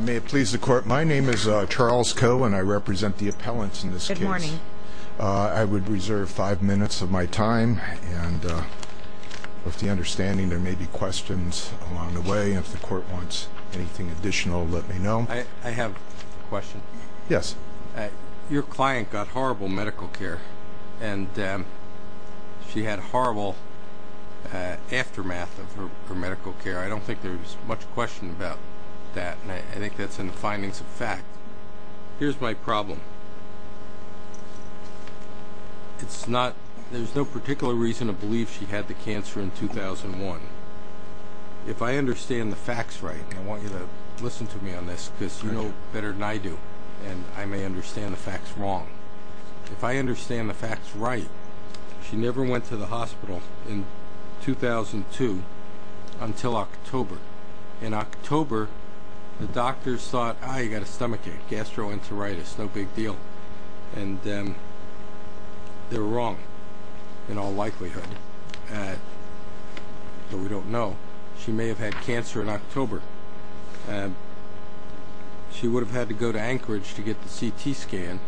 May it please the court, my name is Charles Koh and I represent the appellants in this case. I would reserve five minutes of my time and with the understanding there may be questions along the way. If the court wants anything additional, let me know. I have a question. Yes. Your client got horrible medical care and she had a horrible aftermath of her medical care. I don't think there's much question about that and I think that's in the findings of fact. Here's my problem. There's no particular reason to believe she had the cancer in 2001. If I understand the facts right, and I want you to listen to me on this because you know better than I do, and I may understand the facts wrong. If I understand the facts right, she never went to the hospital in 2002 until October. In October, the doctors thought, ah, you got a stomachache, gastroenteritis, no big deal. And they were wrong in all likelihood. But we don't know. She may have had cancer in October. She would have had to go to Anchorage to get the CT scan.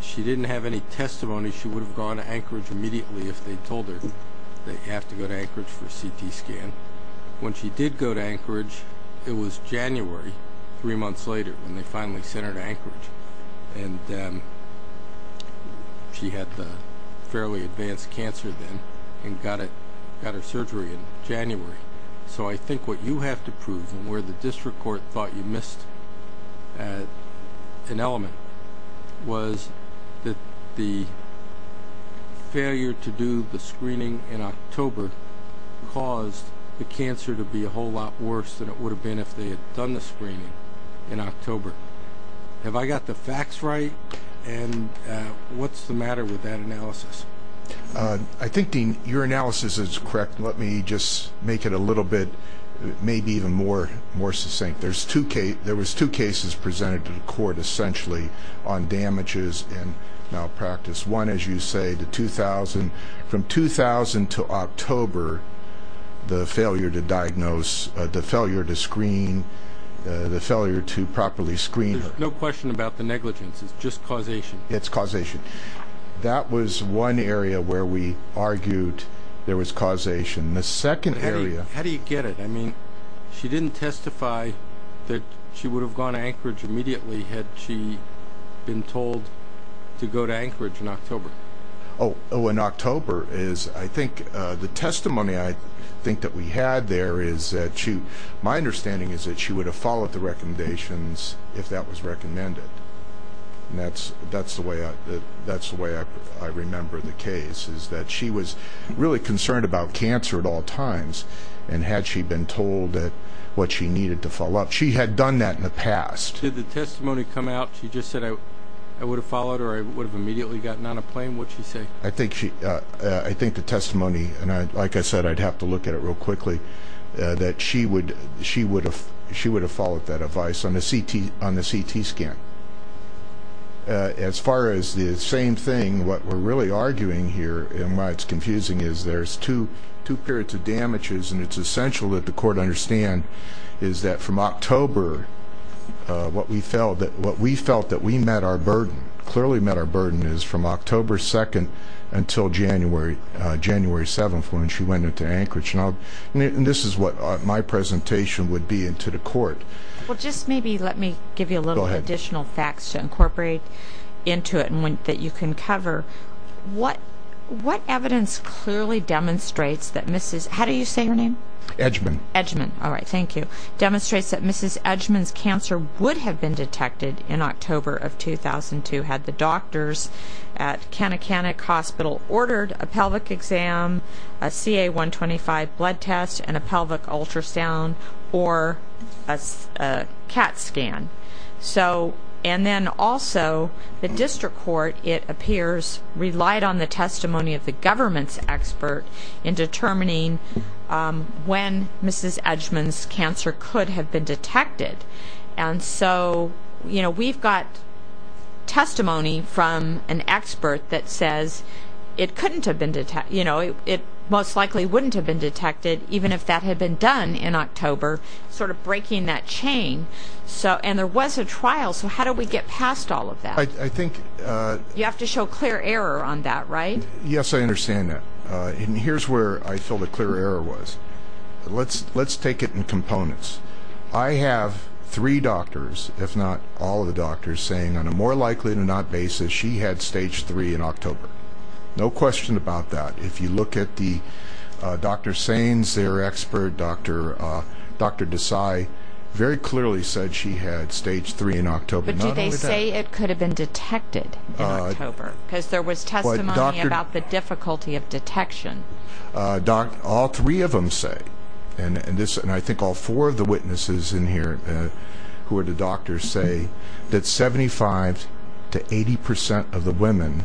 She didn't have any testimony. She would have gone to Anchorage immediately if they told her they have to go to Anchorage for a CT scan. When she did go to Anchorage, it was January, three months later, when they finally sent her to Anchorage. And she had the fairly advanced cancer then and got her surgery in January. So I think what you have to prove and where the district court thought you missed an element was that the failure to do the screening in October caused the cancer to be a whole lot worse than it would have been if they had done the screening in October. Have I got the facts right? And what's the matter with that analysis? I think, Dean, your analysis is correct. Let me just make it a little bit maybe even more succinct. There was two cases presented to the court essentially on damages and malpractice. There was one, as you say, from 2000 to October, the failure to diagnose, the failure to screen, the failure to properly screen her. There's no question about the negligence. It's just causation. It's causation. That was one area where we argued there was causation. How do you get it? I mean she didn't testify that she would have gone to Anchorage immediately had she been told to go to Anchorage in October. Oh, in October. I think the testimony I think that we had there is that my understanding is that she would have followed the recommendations if that was recommended. That's the way I remember the case is that she was really concerned about cancer at all times, and had she been told what she needed to follow up. She had done that in the past. Did the testimony come out she just said I would have followed or I would have immediately gotten on a plane? What did she say? I think the testimony, and like I said, I'd have to look at it real quickly, that she would have followed that advice on the CT scan. As far as the same thing, what we're really arguing here, and why it's confusing, is there's two periods of damages, and it's essential that the court understand is that from October, what we felt that we met our burden, clearly met our burden, is from October 2nd until January 7th when she went into Anchorage. This is what my presentation would be to the court. Well, just maybe let me give you a little additional facts to incorporate into it that you can cover. What evidence clearly demonstrates that Mrs. How do you say her name? Edgeman. Edgeman. All right, thank you. Demonstrates that Mrs. Edgeman's cancer would have been detected in October of 2002 had the doctors at Kanekanek Hospital ordered a pelvic exam, a CA-125 blood test, and a pelvic ultrasound or a CAT scan. And then also, the district court, it appears, relied on the testimony of the government's expert in determining when Mrs. Edgeman's cancer could have been detected. And so we've got testimony from an expert that says it most likely wouldn't have been detected even if that had been done in October, sort of breaking that chain. And there was a trial, so how do we get past all of that? You have to show clear error on that, right? Yes, I understand that. And here's where I feel the clear error was. Let's take it in components. I have three doctors, if not all of the doctors, saying on a more likely than not basis she had stage 3 in October. No question about that. If you look at Dr. Sainz, their expert, Dr. Desai, very clearly said she had stage 3 in October. But do they say it could have been detected in October? Because there was testimony about the difficulty of detection. All three of them say, and I think all four of the witnesses in here who are the doctors say that 75% to 80% of the women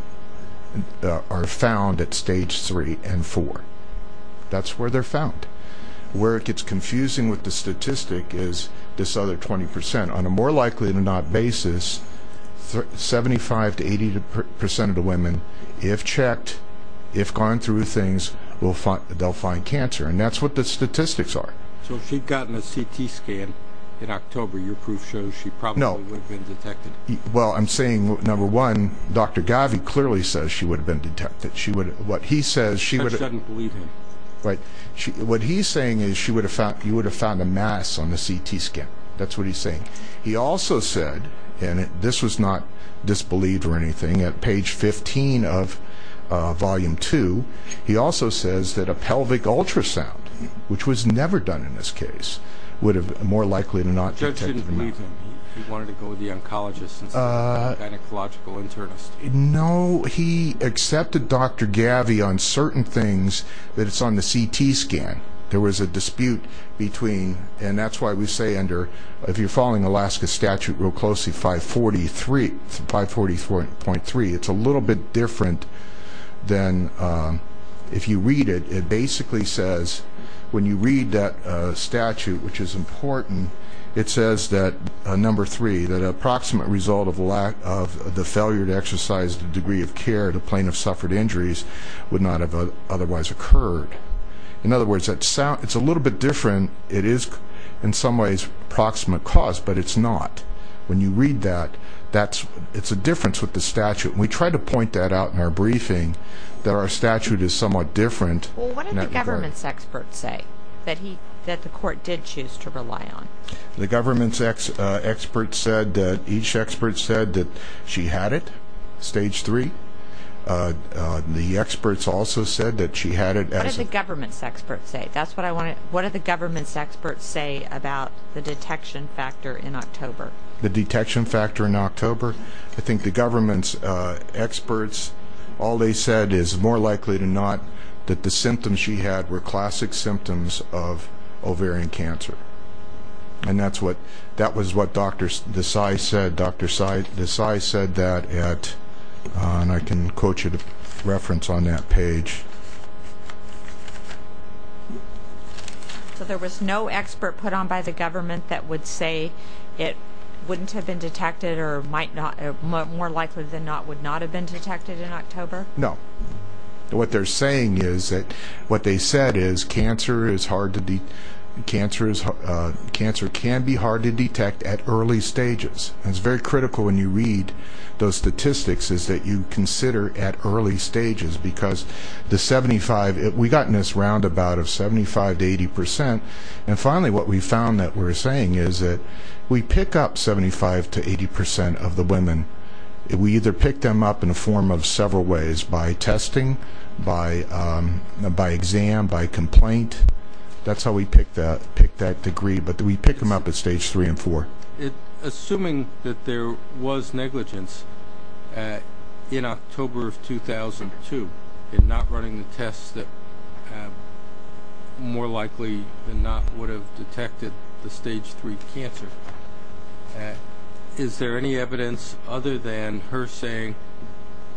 are found at stage 3 and 4. That's where they're found. Where it gets confusing with the statistic is this other 20%. On a more likely than not basis, 75% to 80% of the women, if checked, if gone through things, they'll find cancer. And that's what the statistics are. So if she'd gotten a CT scan in October, your proof shows she probably would have been detected. Well, I'm saying, number one, Dr. Gavi clearly says she would have been detected. I shouldn't believe him. What he's saying is you would have found a mass on the CT scan. That's what he's saying. He also said, and this was not disbelieved or anything, at page 15 of volume 2, he also says that a pelvic ultrasound, which was never done in this case, would have more likely not been detected. The judge didn't believe him. He wanted to go with the oncologist instead of the gynecological internist. No, he accepted Dr. Gavi on certain things that it's on the CT scan. There was a dispute between, and that's why we say under, if you're following Alaska statute real closely, 540.3, it's a little bit different than if you read it. It basically says when you read that statute, which is important, it says that, number three, that an approximate result of the failure to exercise the degree of care the plaintiff suffered injuries would not have otherwise occurred. In other words, it's a little bit different. It is in some ways approximate cause, but it's not. When you read that, it's a difference with the statute. We tried to point that out in our briefing, that our statute is somewhat different. What did the government's experts say that the court did choose to rely on? The government's experts said that each expert said that she had it, stage three. The experts also said that she had it. What did the government's experts say? What did the government's experts say about the detection factor in October? The detection factor in October? I think the government's experts, all they said is more likely than not that the symptoms she had were classic symptoms of ovarian cancer. That was what Dr. Desai said. Dr. Desai said that at, and I can quote you the reference on that page. There was no expert put on by the government that would say it wouldn't have been detected or more likely than not would not have been detected in October? No. What they're saying is that what they said is cancer can be hard to detect at early stages. It's very critical when you read those statistics is that you consider at early stages because the 75, we got in this roundabout of 75 to 80%. Finally, what we found that we're saying is that we pick up 75 to 80% of the women. We either pick them up in a form of several ways, by testing, by exam, by complaint. That's how we pick that degree, but we pick them up at stage 3 and 4. Assuming that there was negligence in October of 2002 in not running the tests that more likely than not would have detected the stage 3 cancer, is there any evidence other than her saying,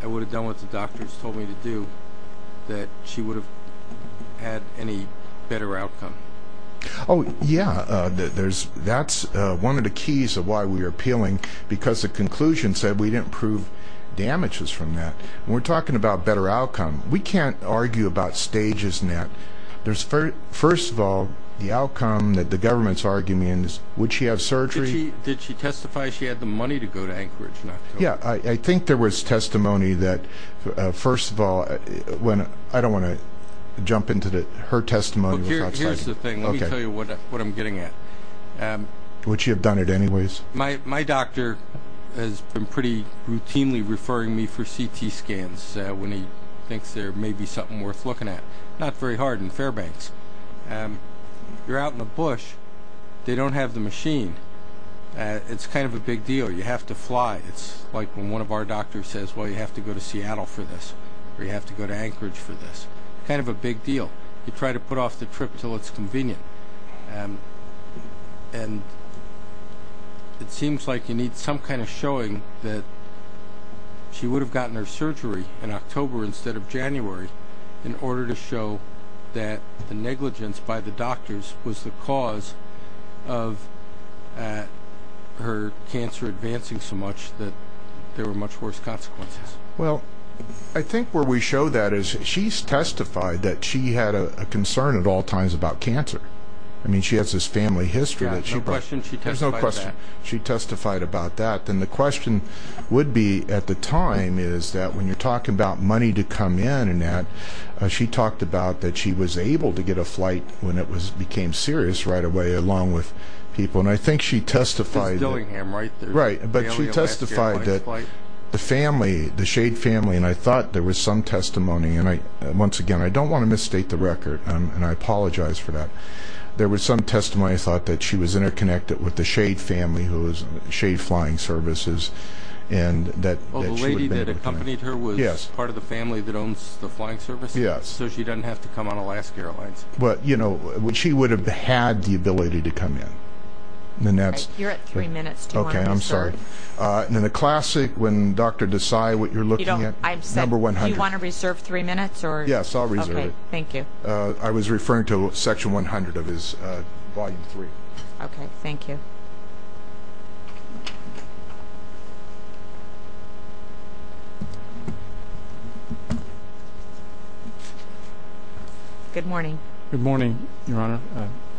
I would have done what the doctors told me to do, that she would have had any better outcome? Yeah, that's one of the keys of why we are appealing because the conclusion said we didn't prove damages from that. We're talking about better outcome. We can't argue about stages in that. First of all, the outcome that the government's arguing is, would she have surgery? Did she testify she had the money to go to Anchorage in October? Yeah, I think there was testimony that, first of all, I don't want to jump into her testimony. Here's the thing. Let me tell you what I'm getting at. Would she have done it anyways? My doctor has been pretty routinely referring me for CT scans when he thinks there may be something worth looking at. Not very hard in Fairbanks. You're out in the bush. They don't have the machine. It's kind of a big deal. You have to fly. It's like when one of our doctors says, well, you have to go to Seattle for this or you have to go to Anchorage for this. Kind of a big deal. You try to put off the trip until it's convenient. And it seems like you need some kind of showing that she would have gotten her surgery in October instead of January in order to show that the negligence by the doctors was the cause of her cancer advancing so much that there were much worse consequences. Well, I think where we show that is she's testified that she had a concern at all times about cancer. I mean, she has this family history. Yeah, no question she testified about that. She testified about that. Then the question would be at the time is that when you're talking about money to come in and she talked about that she was able to get a flight when it became serious right away along with people, and I think she testified. It's Dillingham, right? Right, but she testified that the family, the Shade family, and I thought there was some testimony, and once again, I don't want to misstate the record, and I apologize for that. There was some testimony. I thought that she was interconnected with the Shade family, who was Shade Flying Services, and that she would have been able to come. You said her was part of the family that owns the Flying Services? Yes. So she doesn't have to come on Alaska Airlines. But, you know, she would have had the ability to come in. You're at three minutes. Do you want to reserve? Okay, I'm sorry. In the classic, when Dr. Desai, what you're looking at, number 100. I said, do you want to reserve three minutes? Yes, I'll reserve it. Okay, thank you. I was referring to Section 100 of Volume 3. Okay, thank you. Good morning. Good morning, Your Honor,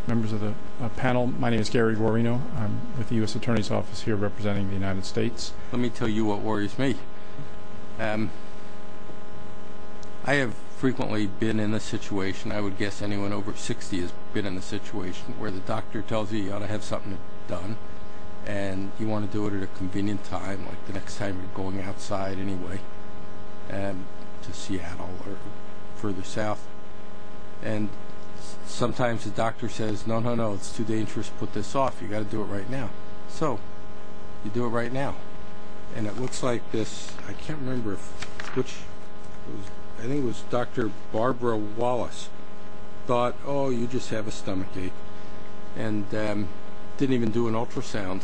members of the panel. My name is Gary Guarino. I'm with the U.S. Attorney's Office here representing the United States. Let me tell you what worries me. I have frequently been in a situation, I would guess anyone over 60 has been in a situation, where the doctor tells you you ought to have something done, and you want to do it at a convenient time, like the next time you're going outside anyway to Seattle or further south. And sometimes the doctor says, no, no, no, it's too dangerous to put this off. You've got to do it right now. So, you do it right now. And it looks like this, I can't remember which, I think it was Dr. Barbara Wallace, thought, oh, you just have a stomach ache, and didn't even do an ultrasound,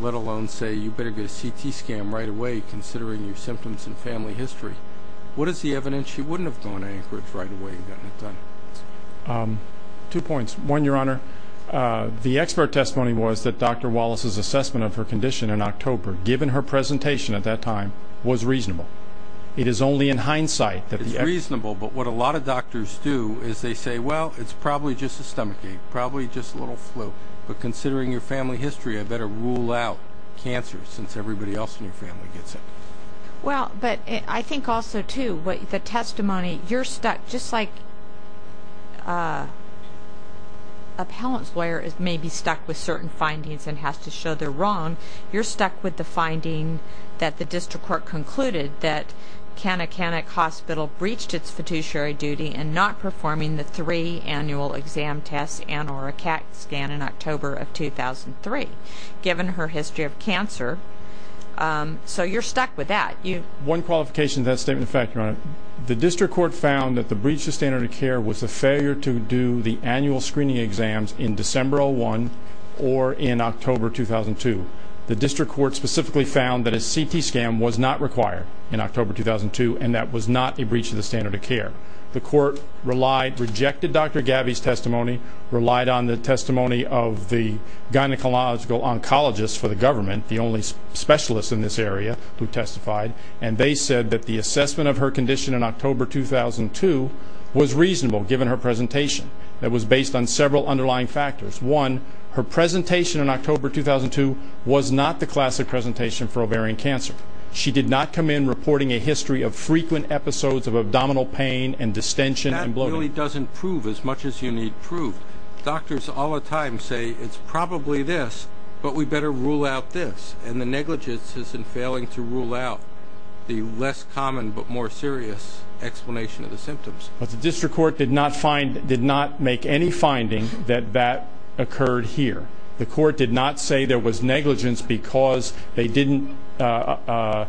let alone say you better get a CT scan right away considering your symptoms and family history. What is the evidence she wouldn't have gone to Anchorage right away and gotten it done? Two points. One, Your Honor, the expert testimony was that Dr. Wallace's assessment of her condition in October, given her presentation at that time, was reasonable. It is only in hindsight that the expert testimony was reasonable. But what a lot of doctors do is they say, well, it's probably just a stomach ache, probably just a little flu, but considering your family history, I better rule out cancer since everybody else in your family gets it. Well, but I think also, too, the testimony, you're stuck, just like a parent's lawyer may be stuck with certain findings and has to show they're wrong, you're stuck with the finding that the district court concluded that Kanekanek Hospital breached its fiduciary duty in not performing the three annual exam tests and or a CAT scan in October of 2003, given her history of cancer. So you're stuck with that. One qualification of that statement of fact, Your Honor, the district court found that the breach of the standard of care was the failure to do the annual screening exams in December 2001 or in October 2002. The district court specifically found that a CT scan was not required in October 2002 and that was not a breach of the standard of care. The court relied, rejected Dr. Gabby's testimony, relied on the testimony of the gynecological oncologist for the government, the only specialist in this area who testified, and they said that the assessment of her condition in October 2002 was reasonable given her presentation. It was based on several underlying factors. One, her presentation in October 2002 was not the classic presentation for ovarian cancer. She did not come in reporting a history of frequent episodes of abdominal pain and distension and bloating. That really doesn't prove as much as you need to prove. Doctors all the time say it's probably this, but we better rule out this, and the negligence is in failing to rule out the less common but more serious explanation of the symptoms. But the district court did not make any finding that that occurred here. The court did not say there was negligence because they didn't order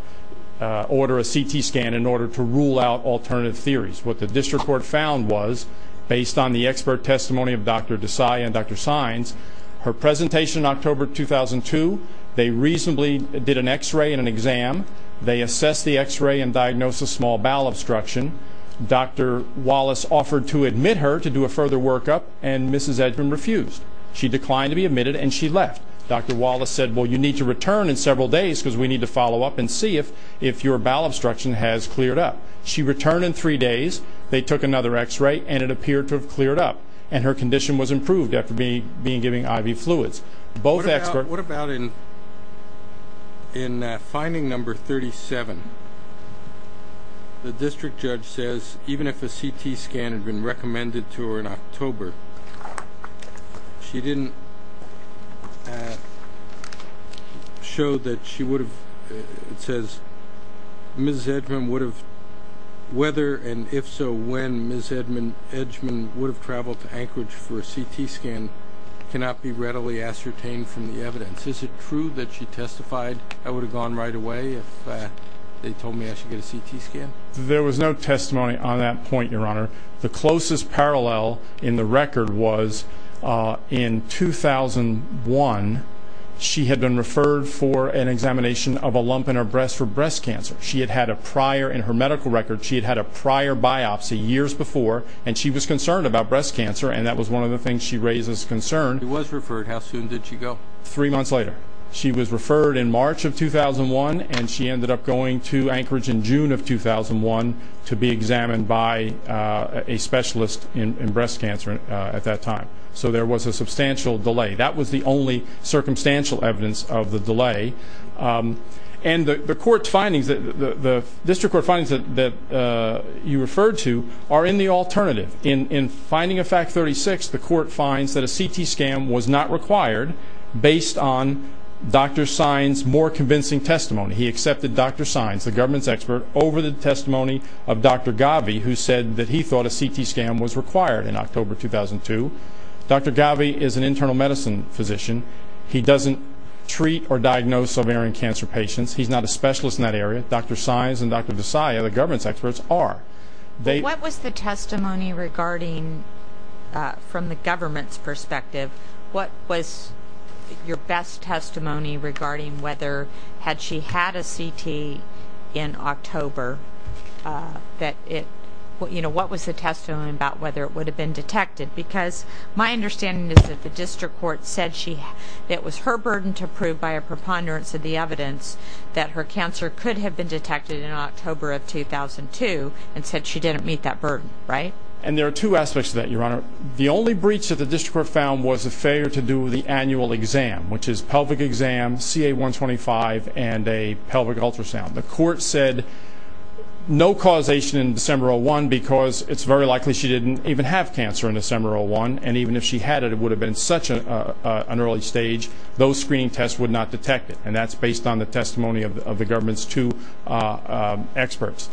a CT scan in order to rule out alternative theories. What the district court found was, based on the expert testimony of Dr. Desai and Dr. Saenz, her presentation in October 2002, they reasonably did an X-ray and an exam. They assessed the X-ray and diagnosed a small bowel obstruction. Dr. Wallace offered to admit her to do a further workup, and Mrs. Edgman refused. She declined to be admitted, and she left. Dr. Wallace said, well, you need to return in several days because we need to follow up and see if your bowel obstruction has cleared up. She returned in three days. They took another X-ray, and it appeared to have cleared up, and her condition was improved after being given IV fluids. What about in finding number 37? The district judge says even if a CT scan had been recommended to her in October, she didn't show that she would have, it says, whether and if so when Mrs. Edgman would have traveled to Anchorage for a CT scan and cannot be readily ascertained from the evidence. Is it true that she testified, I would have gone right away if they told me I should get a CT scan? There was no testimony on that point, Your Honor. The closest parallel in the record was in 2001. She had been referred for an examination of a lump in her breast for breast cancer. She had had a prior, in her medical record, she had had a prior biopsy years before, and she was concerned about breast cancer, and that was one of the things she raised as a concern. She was referred. How soon did she go? Three months later. She was referred in March of 2001, and she ended up going to Anchorage in June of 2001 to be examined by a specialist in breast cancer at that time. So there was a substantial delay. That was the only circumstantial evidence of the delay. And the court's findings, the district court findings that you referred to are in the alternative. In finding of fact 36, the court finds that a CT scan was not required based on Dr. Sines' more convincing testimony. He accepted Dr. Sines, the government's expert, over the testimony of Dr. Gavi, who said that he thought a CT scan was required in October 2002. Dr. Gavi is an internal medicine physician. He doesn't treat or diagnose ovarian cancer patients. He's not a specialist in that area. Dr. Sines and Dr. Desai, the government's experts, are. What was the testimony regarding, from the government's perspective, what was your best testimony regarding whether, had she had a CT in October, what was the testimony about whether it would have been detected? Because my understanding is that the district court said it was her burden to prove by a preponderance of the evidence that her cancer could have been detected in October of 2002 and said she didn't meet that burden, right? And there are two aspects to that, Your Honor. The only breach that the district court found was a failure to do the annual exam, which is pelvic exam, CA-125, and a pelvic ultrasound. The court said no causation in December 2001 because it's very likely she didn't even have cancer in December 2001, and even if she had it, it would have been such an early stage. Those screening tests would not detect it, and that's based on the testimony of the government's two experts.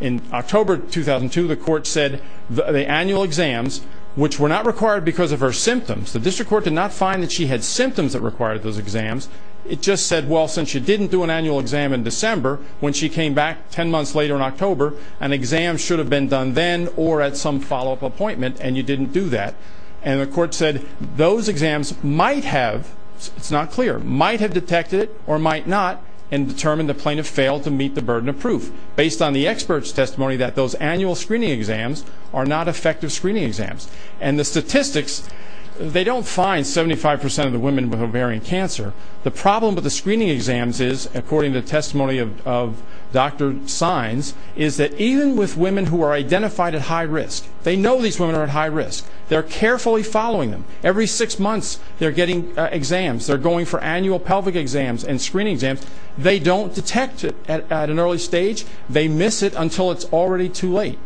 In October 2002, the court said the annual exams, which were not required because of her symptoms. The district court did not find that she had symptoms that required those exams. It just said, well, since she didn't do an annual exam in December, when she came back 10 months later in October, an exam should have been done then or at some follow-up appointment, and you didn't do that. And the court said those exams might have, it's not clear, might have detected it or might not and determined the plaintiff failed to meet the burden of proof based on the expert's testimony that those annual screening exams are not effective screening exams. And the statistics, they don't find 75% of the women with ovarian cancer. The problem with the screening exams is, according to testimony of Dr. Sines, is that even with women who are identified at high risk, they know these women are at high risk. They're carefully following them. Every six months, they're getting exams. They're going for annual pelvic exams and screening exams. They don't detect it at an early stage. They miss it until it's already too late.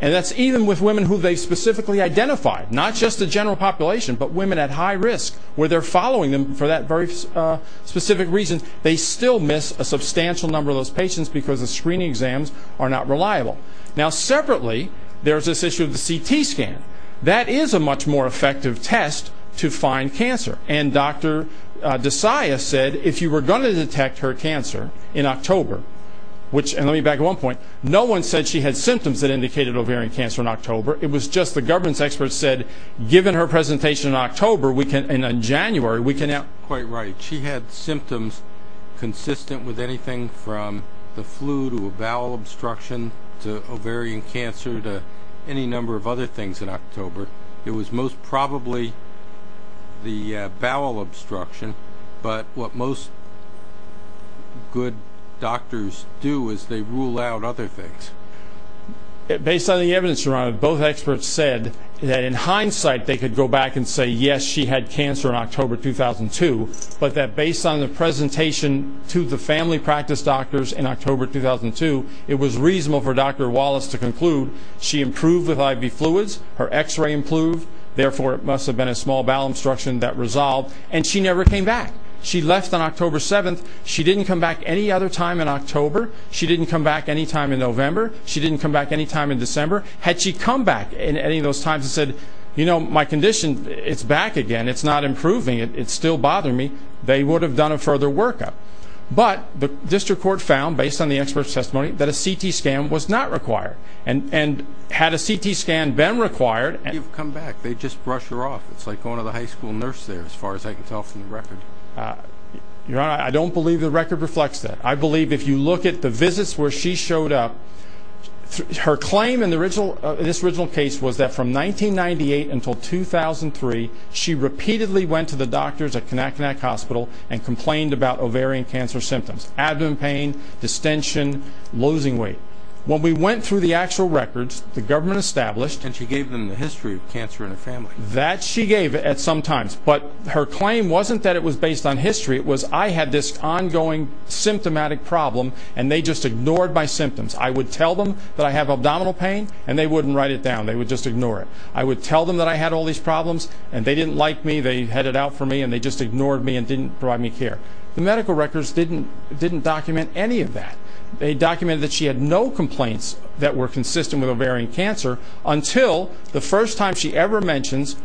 And that's even with women who they specifically identified, not just the general population, but women at high risk, where they're following them for that very specific reason. They still miss a substantial number of those patients because the screening exams are not reliable. Now, separately, there's this issue of the CT scan. That is a much more effective test to find cancer. And Dr. Desaia said if you were going to detect her cancer in October, which, and let me back up one point, no one said she had symptoms that indicated ovarian cancer in October. It was just the governance experts said, given her presentation in October, we can, in January, we can have... You're quite right. She had symptoms consistent with anything from the flu to a bowel obstruction to ovarian cancer to any number of other things in October. It was most probably the bowel obstruction, but what most good doctors do is they rule out other things. Based on the evidence, both experts said that, in hindsight, they could go back and say, yes, she had cancer in October 2002, but that based on the presentation to the family practice doctors in October 2002, it was reasonable for Dr. Wallace to conclude she improved with IV fluids, her X-ray improved, therefore it must have been a small bowel obstruction that resolved, and she never came back. She left on October 7th. She didn't come back any other time in October. She didn't come back any time in November. She didn't come back any time in December. Had she come back at any of those times and said, you know, my condition, it's back again, it's not improving, it's still bothering me, they would have done a further workup. But the district court found, based on the expert's testimony, that a CT scan was not required. And had a CT scan been required... You've come back. They just brush her off. It's like going to the high school nurse there, as far as I can tell from the record. Your Honor, I don't believe the record reflects that. I believe if you look at the visits where she showed up, her claim in this original case was that from 1998 until 2003, she repeatedly went to the doctors at Kanatkanak Hospital and complained about ovarian cancer symptoms, abdomen pain, distension, losing weight. When we went through the actual records, the government established... And she gave them the history of cancer in her family. That she gave at some times. But her claim wasn't that it was based on history. It was, I had this ongoing symptomatic problem, and they just ignored my symptoms. I would tell them that I have abdominal pain, and they wouldn't write it down. They would just ignore it. I would tell them that I had all these problems, and they didn't like me. They had it out for me, and they just ignored me and didn't provide me care. The medical records didn't document any of that. They documented that she had no complaints that were consistent with ovarian cancer until the first time she ever mentions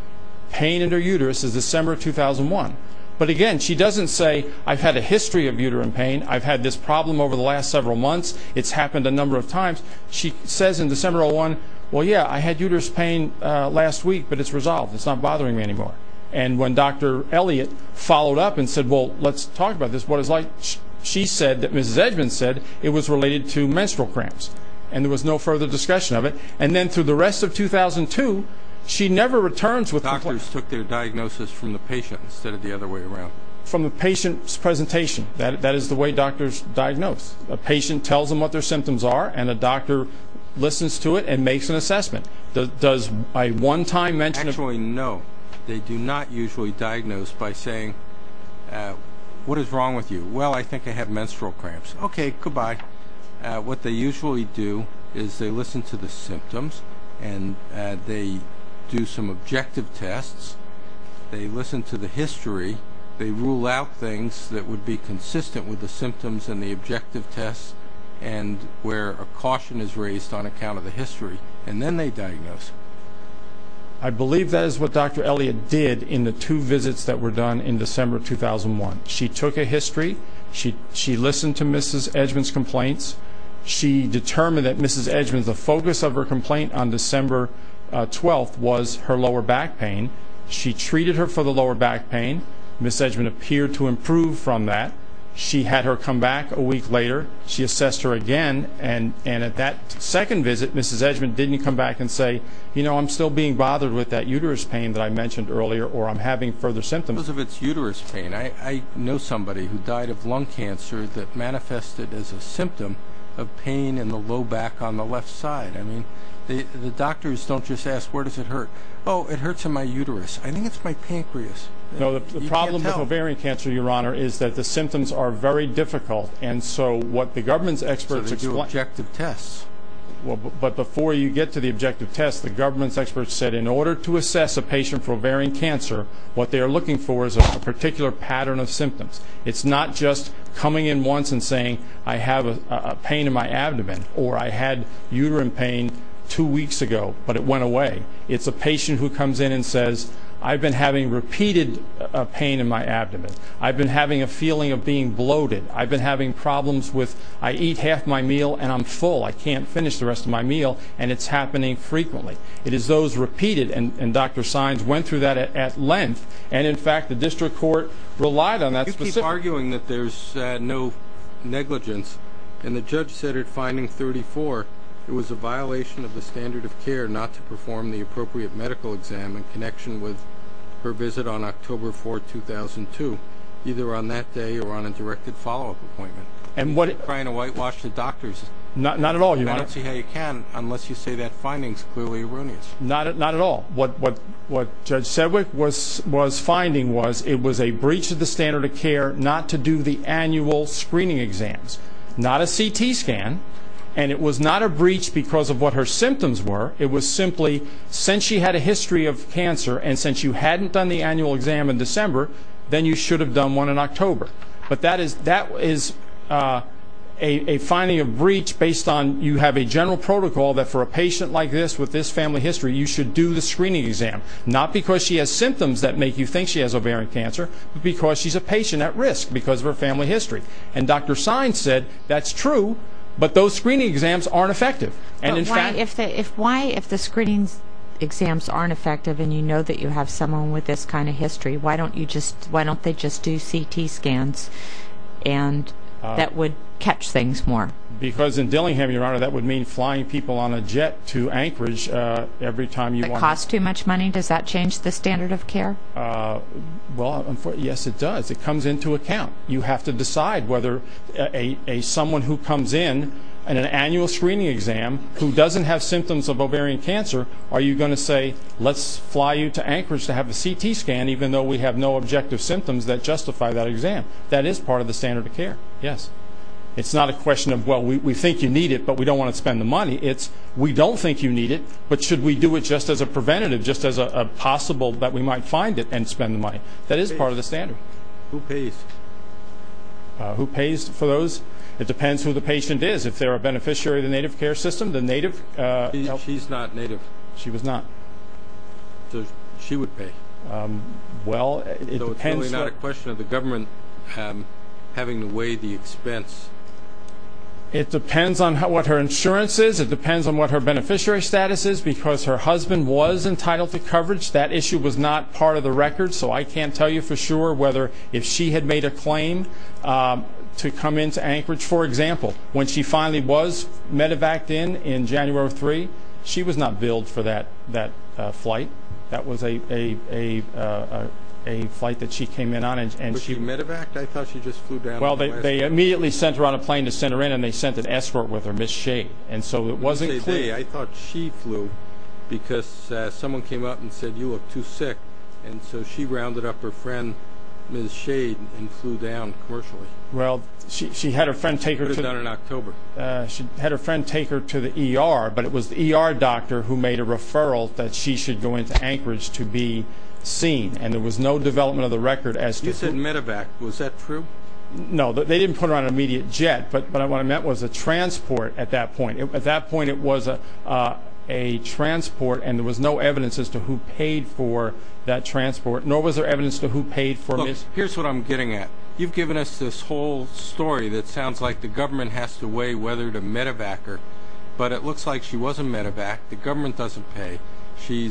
pain in her uterus is December 2001. But again, she doesn't say, I've had a history of uterine pain. I've had this problem over the last several months. It's happened a number of times. She says in December 2001, well, yeah, I had uterus pain last week, but it's resolved. It's not bothering me anymore. And when Dr. Elliott followed up and said, well, let's talk about this, what it's like, she said that Mrs. Edgman said it was related to menstrual cramps. And there was no further discussion of it. And then through the rest of 2002, she never returns with a complaint. Doctors took their diagnosis from the patient instead of the other way around. From the patient's presentation. That is the way doctors diagnose. A patient tells them what their symptoms are, and a doctor listens to it and makes an assessment. Does a one-time mention of pain? Actually, no. They do not usually diagnose by saying, what is wrong with you? Well, I think I have menstrual cramps. Okay, goodbye. What they usually do is they listen to the symptoms, and they do some objective tests. They listen to the history. They rule out things that would be consistent with the symptoms and the objective tests and where a caution is raised on account of the history. And then they diagnose. I believe that is what Dr. Elliott did in the two visits that were done in December 2001. She took a history. She listened to Mrs. Edgman's complaints. She determined that Mrs. Edgman, the focus of her complaint on December 12th was her lower back pain. She treated her for the lower back pain. Mrs. Edgman appeared to improve from that. She had her come back a week later. She assessed her again. And at that second visit, Mrs. Edgman didn't come back and say, you know, I'm still being bothered with that uterus pain that I mentioned earlier, or I'm having further symptoms. Because of its uterus pain, I know somebody who died of lung cancer that manifested as a symptom of pain in the low back on the left side. I mean, the doctors don't just ask, where does it hurt? Oh, it hurts in my uterus. I think it's my pancreas. No, the problem with ovarian cancer, Your Honor, is that the symptoms are very difficult. And so what the government's experts explain- So they do objective tests. But before you get to the objective tests, the government's experts said in order to assess a patient for ovarian cancer, what they are looking for is a particular pattern of symptoms. It's not just coming in once and saying, I have a pain in my abdomen, or I had uterine pain two weeks ago, but it went away. It's a patient who comes in and says, I've been having repeated pain in my abdomen. I've been having a feeling of being bloated. I've been having problems with I eat half my meal and I'm full. I can't finish the rest of my meal, and it's happening frequently. It is those repeated, and Dr. Sines went through that at length. And, in fact, the district court relied on that specific- You keep arguing that there's no negligence. And the judge said at finding 34 it was a violation of the standard of care not to perform the appropriate medical exam in connection with her visit on October 4, 2002, either on that day or on a directed follow-up appointment. You keep trying to whitewash the doctors. Not at all. And I don't see how you can unless you say that finding's clearly erroneous. Not at all. What Judge Sedwick was finding was it was a breach of the standard of care not to do the annual screening exams, not a CT scan, and it was not a breach because of what her symptoms were. It was simply since she had a history of cancer and since you hadn't done the annual exam in December, then you should have done one in October. But that is a finding of breach based on you have a general protocol that for a patient like this with this family history you should do the screening exam, not because she has symptoms that make you think she has ovarian cancer, but because she's a patient at risk because of her family history. And Dr. Sine said that's true, but those screening exams aren't effective. Why, if the screening exams aren't effective and you know that you have someone with this kind of history, why don't they just do CT scans that would catch things more? Because in Dillingham, Your Honor, that would mean flying people on a jet to Anchorage every time you want to. Does it cost too much money? Does that change the standard of care? Well, yes, it does. It comes into account. You have to decide whether someone who comes in on an annual screening exam who doesn't have symptoms of ovarian cancer, are you going to say, let's fly you to Anchorage to have a CT scan even though we have no objective symptoms that justify that exam? That is part of the standard of care, yes. It's not a question of, well, we think you need it, but we don't want to spend the money. It's we don't think you need it, but should we do it just as a preventative, just as a possible that we might find it and spend the money. That is part of the standard. Who pays? Who pays for those? It depends who the patient is. If they're a beneficiary of the native care system, the native help. She's not native. She was not. So she would pay. Well, it depends. So it's really not a question of the government having to weigh the expense? It depends on what her insurance is. It depends on what her beneficiary status is because her husband was entitled to coverage. That issue was not part of the record. So I can't tell you for sure whether if she had made a claim to come into Anchorage. For example, when she finally was medevaced in January 3, she was not billed for that flight. That was a flight that she came in on. Was she medevaced? I thought she just flew down. Well, they immediately sent her on a plane to send her in, and they sent an escort with her, Miss Shade. And so it wasn't clear. I thought she flew because someone came up and said, you look too sick. And so she rounded up her friend, Miss Shade, and flew down commercially. Well, she had her friend take her to the ER, but it was the ER doctor who made a referral that she should go into Anchorage to be seen. And there was no development of the record as to who. You said medevaced. Was that true? No, they didn't put her on an immediate jet, but what I meant was a transport at that point. At that point it was a transport, and there was no evidence as to who paid for that transport, nor was there evidence as to who paid for Miss Shade. Here's what I'm getting at. You've given us this whole story that sounds like the government has to weigh whether to medevac her, but it looks like she was a medevac. The government doesn't pay. She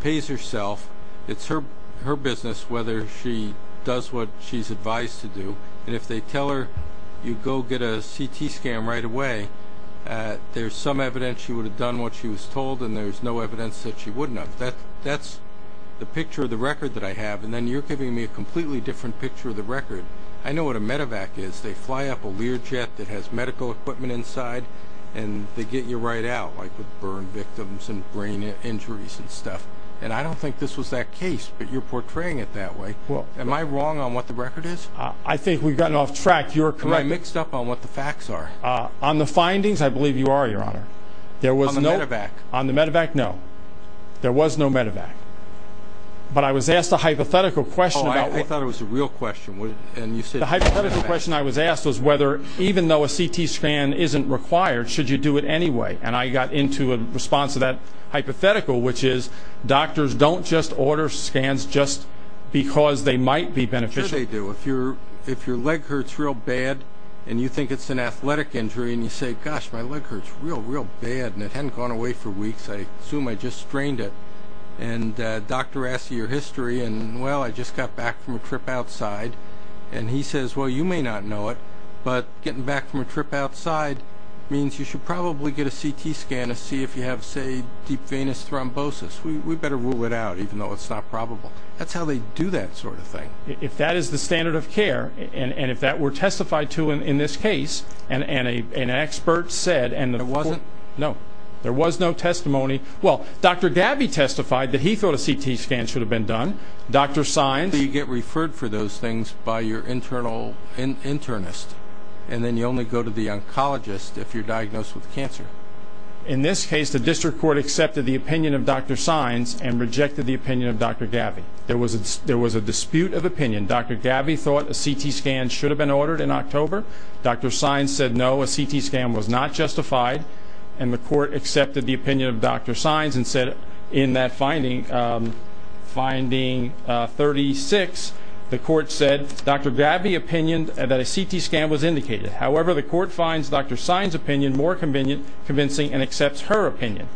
pays herself. It's her business whether she does what she's advised to do, and if they tell her you go get a CT scan right away, there's some evidence she would have done what she was told, and there's no evidence that she wouldn't have. That's the picture of the record that I have, and then you're giving me a completely different picture of the record. I know what a medevac is. They fly up a Learjet that has medical equipment inside, and they get you right out, like with burn victims and brain injuries and stuff. And I don't think this was that case, but you're portraying it that way. Am I wrong on what the record is? I think we've gotten off track. Am I mixed up on what the facts are? On the findings, I believe you are, Your Honor. On the medevac? On the medevac, no. There was no medevac. But I was asked a hypothetical question. Oh, I thought it was a real question. The hypothetical question I was asked was whether, even though a CT scan isn't required, should you do it anyway, and I got into a response to that hypothetical, which is doctors don't just order scans just because they might be beneficial. Sure they do. If your leg hurts real bad and you think it's an athletic injury, and you say, gosh, my leg hurts real, real bad, and it hadn't gone away for weeks, I assume I just strained it, and the doctor asks you your history, and, well, I just got back from a trip outside, and he says, well, you may not know it, but getting back from a trip outside means you should probably get a CT scan to see if you have, say, deep venous thrombosis. We'd better rule it out, even though it's not probable. That's how they do that sort of thing. If that is the standard of care, and if that were testified to in this case, and an expert said, and the court ---- It wasn't? No. There was no testimony. Well, Dr. Gabby testified that he thought a CT scan should have been done. Dr. Sines ---- So you get referred for those things by your internal internist, and then you only go to the oncologist if you're diagnosed with cancer. In this case, the district court accepted the opinion of Dr. Sines and rejected the opinion of Dr. Gabby. There was a dispute of opinion. Dr. Gabby thought a CT scan should have been ordered in October. Dr. Sines said no, a CT scan was not justified, and the court accepted the opinion of Dr. Sines and said in that finding, finding 36, the court said Dr. Gabby opinioned that a CT scan was indicated. However, the court finds Dr. Sines' opinion more convincing and accepts her opinion.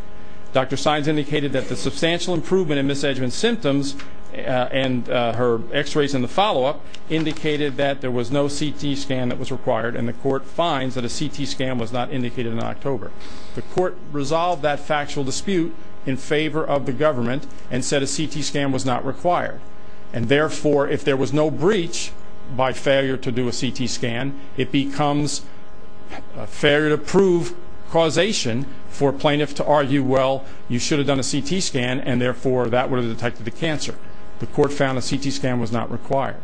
Dr. Sines indicated that the substantial improvement in misedgment symptoms and her x-rays in the follow-up indicated that there was no CT scan that was required, and the court finds that a CT scan was not indicated in October. The court resolved that factual dispute in favor of the government and said a CT scan was not required, and therefore if there was no breach by failure to do a CT scan, it becomes a failure to prove causation for a plaintiff to argue, well, you should have done a CT scan, and therefore that would have detected the cancer. The court found a CT scan was not required,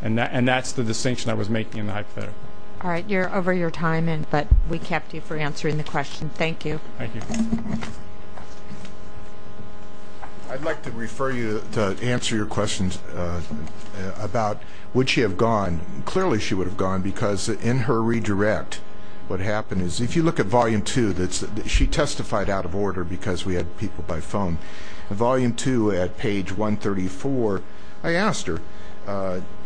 and that's the distinction I was making in the hypothetical. All right. You're over your time, but we kept you for answering the question. Thank you. Thank you. I'd like to refer you to answer your questions about would she have gone. Clearly she would have gone because in her redirect what happened is if you look at Volume 2, she testified out of order because we had people by phone. In Volume 2 at page 134, I asked her,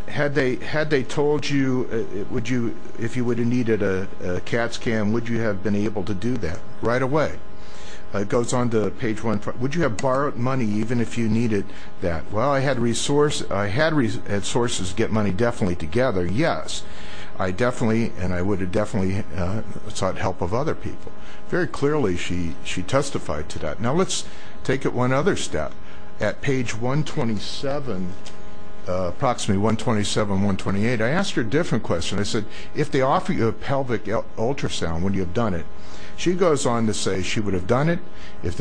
had they told you if you would have needed a CAT scan, would you have been able to do that right away? It goes on to page 1, would you have borrowed money even if you needed that? Well, I had sources get money definitely together, yes. I definitely and I would have definitely sought help of other people. Very clearly she testified to that. Now let's take it one other step. At page 127, approximately 127, 128, I asked her a different question. I said, if they offer you a pelvic ultrasound, would you have done it? She goes on to say she would have done it. If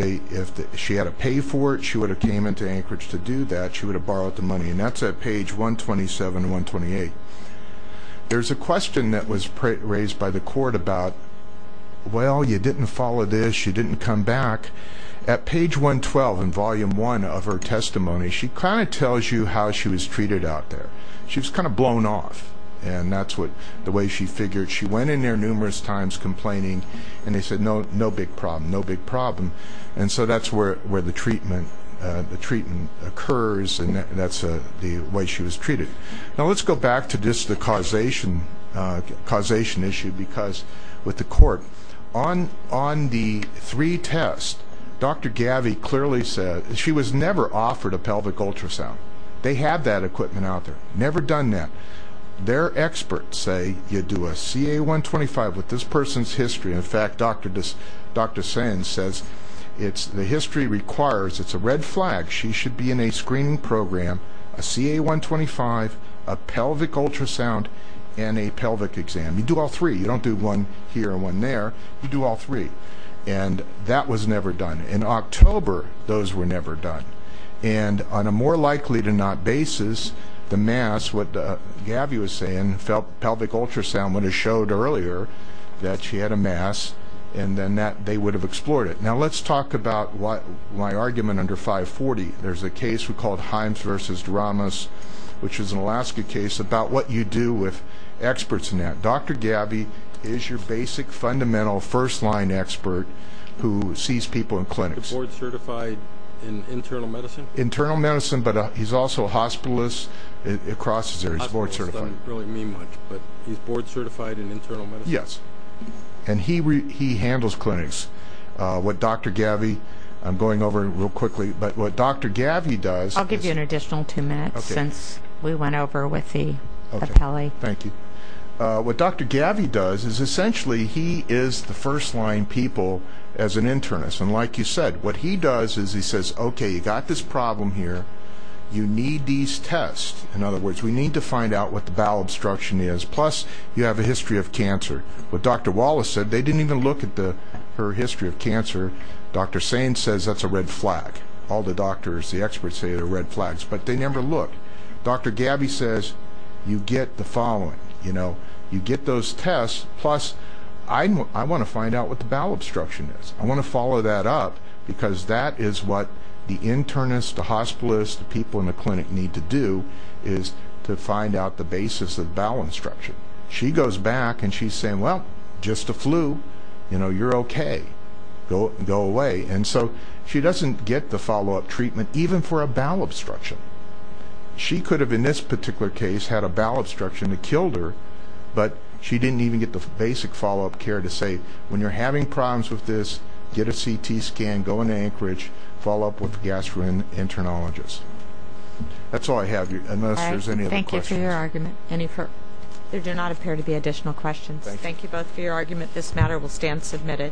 she had to pay for it, she would have came into Anchorage to do that. She would have borrowed the money, and that's at page 127, 128. There's a question that was raised by the court about, well, you didn't follow this. She didn't come back. At page 112 in Volume 1 of her testimony, she kind of tells you how she was treated out there. She was kind of blown off, and that's the way she figured. She went in there numerous times complaining, and they said, no big problem, no big problem. And so that's where the treatment occurs, and that's the way she was treated. Now let's go back to just the causation issue. Because with the court, on the three tests, Dr. Gavi clearly said she was never offered a pelvic ultrasound. They had that equipment out there, never done that. Their experts say you do a CA-125 with this person's history. In fact, Dr. Sands says the history requires, it's a red flag. She should be in a screening program, a CA-125, a pelvic ultrasound, and a pelvic exam. You do all three. You don't do one here and one there. You do all three. And that was never done. In October, those were never done. And on a more likely-to-not basis, the mass, what Gavi was saying, pelvic ultrasound would have showed earlier that she had a mass, and then they would have explored it. Now let's talk about my argument under 540. There's a case we called Himes v. Dramas, which is an Alaska case, about what you do with experts in that. Dr. Gavi is your basic, fundamental, first-line expert who sees people in clinics. Is he board-certified in internal medicine? Internal medicine, but he's also a hospitalist. It crosses areas. He's board-certified. Hospitalist doesn't really mean much, but he's board-certified in internal medicine? Yes. And he handles clinics. What Dr. Gavi does is essentially he is the first-line people as an internist. And like you said, what he does is he says, okay, you've got this problem here. You need these tests. In other words, we need to find out what the bowel obstruction is. Plus, you have a history of cancer. What Dr. Wallace said, they didn't even look at her history of cancer. Dr. Sain says that's a red flag. All the doctors, the experts say they're red flags, but they never look. Dr. Gavi says you get the following. You get those tests. Plus, I want to find out what the bowel obstruction is. I want to follow that up because that is what the internist, the hospitalist, the people in the clinic need to do, is to find out the basis of bowel obstruction. She goes back and she's saying, well, just a flu. You know, you're okay. Go away. And so she doesn't get the follow-up treatment even for a bowel obstruction. She could have, in this particular case, had a bowel obstruction that killed her, but she didn't even get the basic follow-up care to say when you're having problems with this, get a CT scan, go into Anchorage, follow up with a gastroenterologist. That's all I have, unless there's any other questions. Thank you both for your argument. There do not appear to be additional questions. Thank you both for your argument. This matter will stand submitted.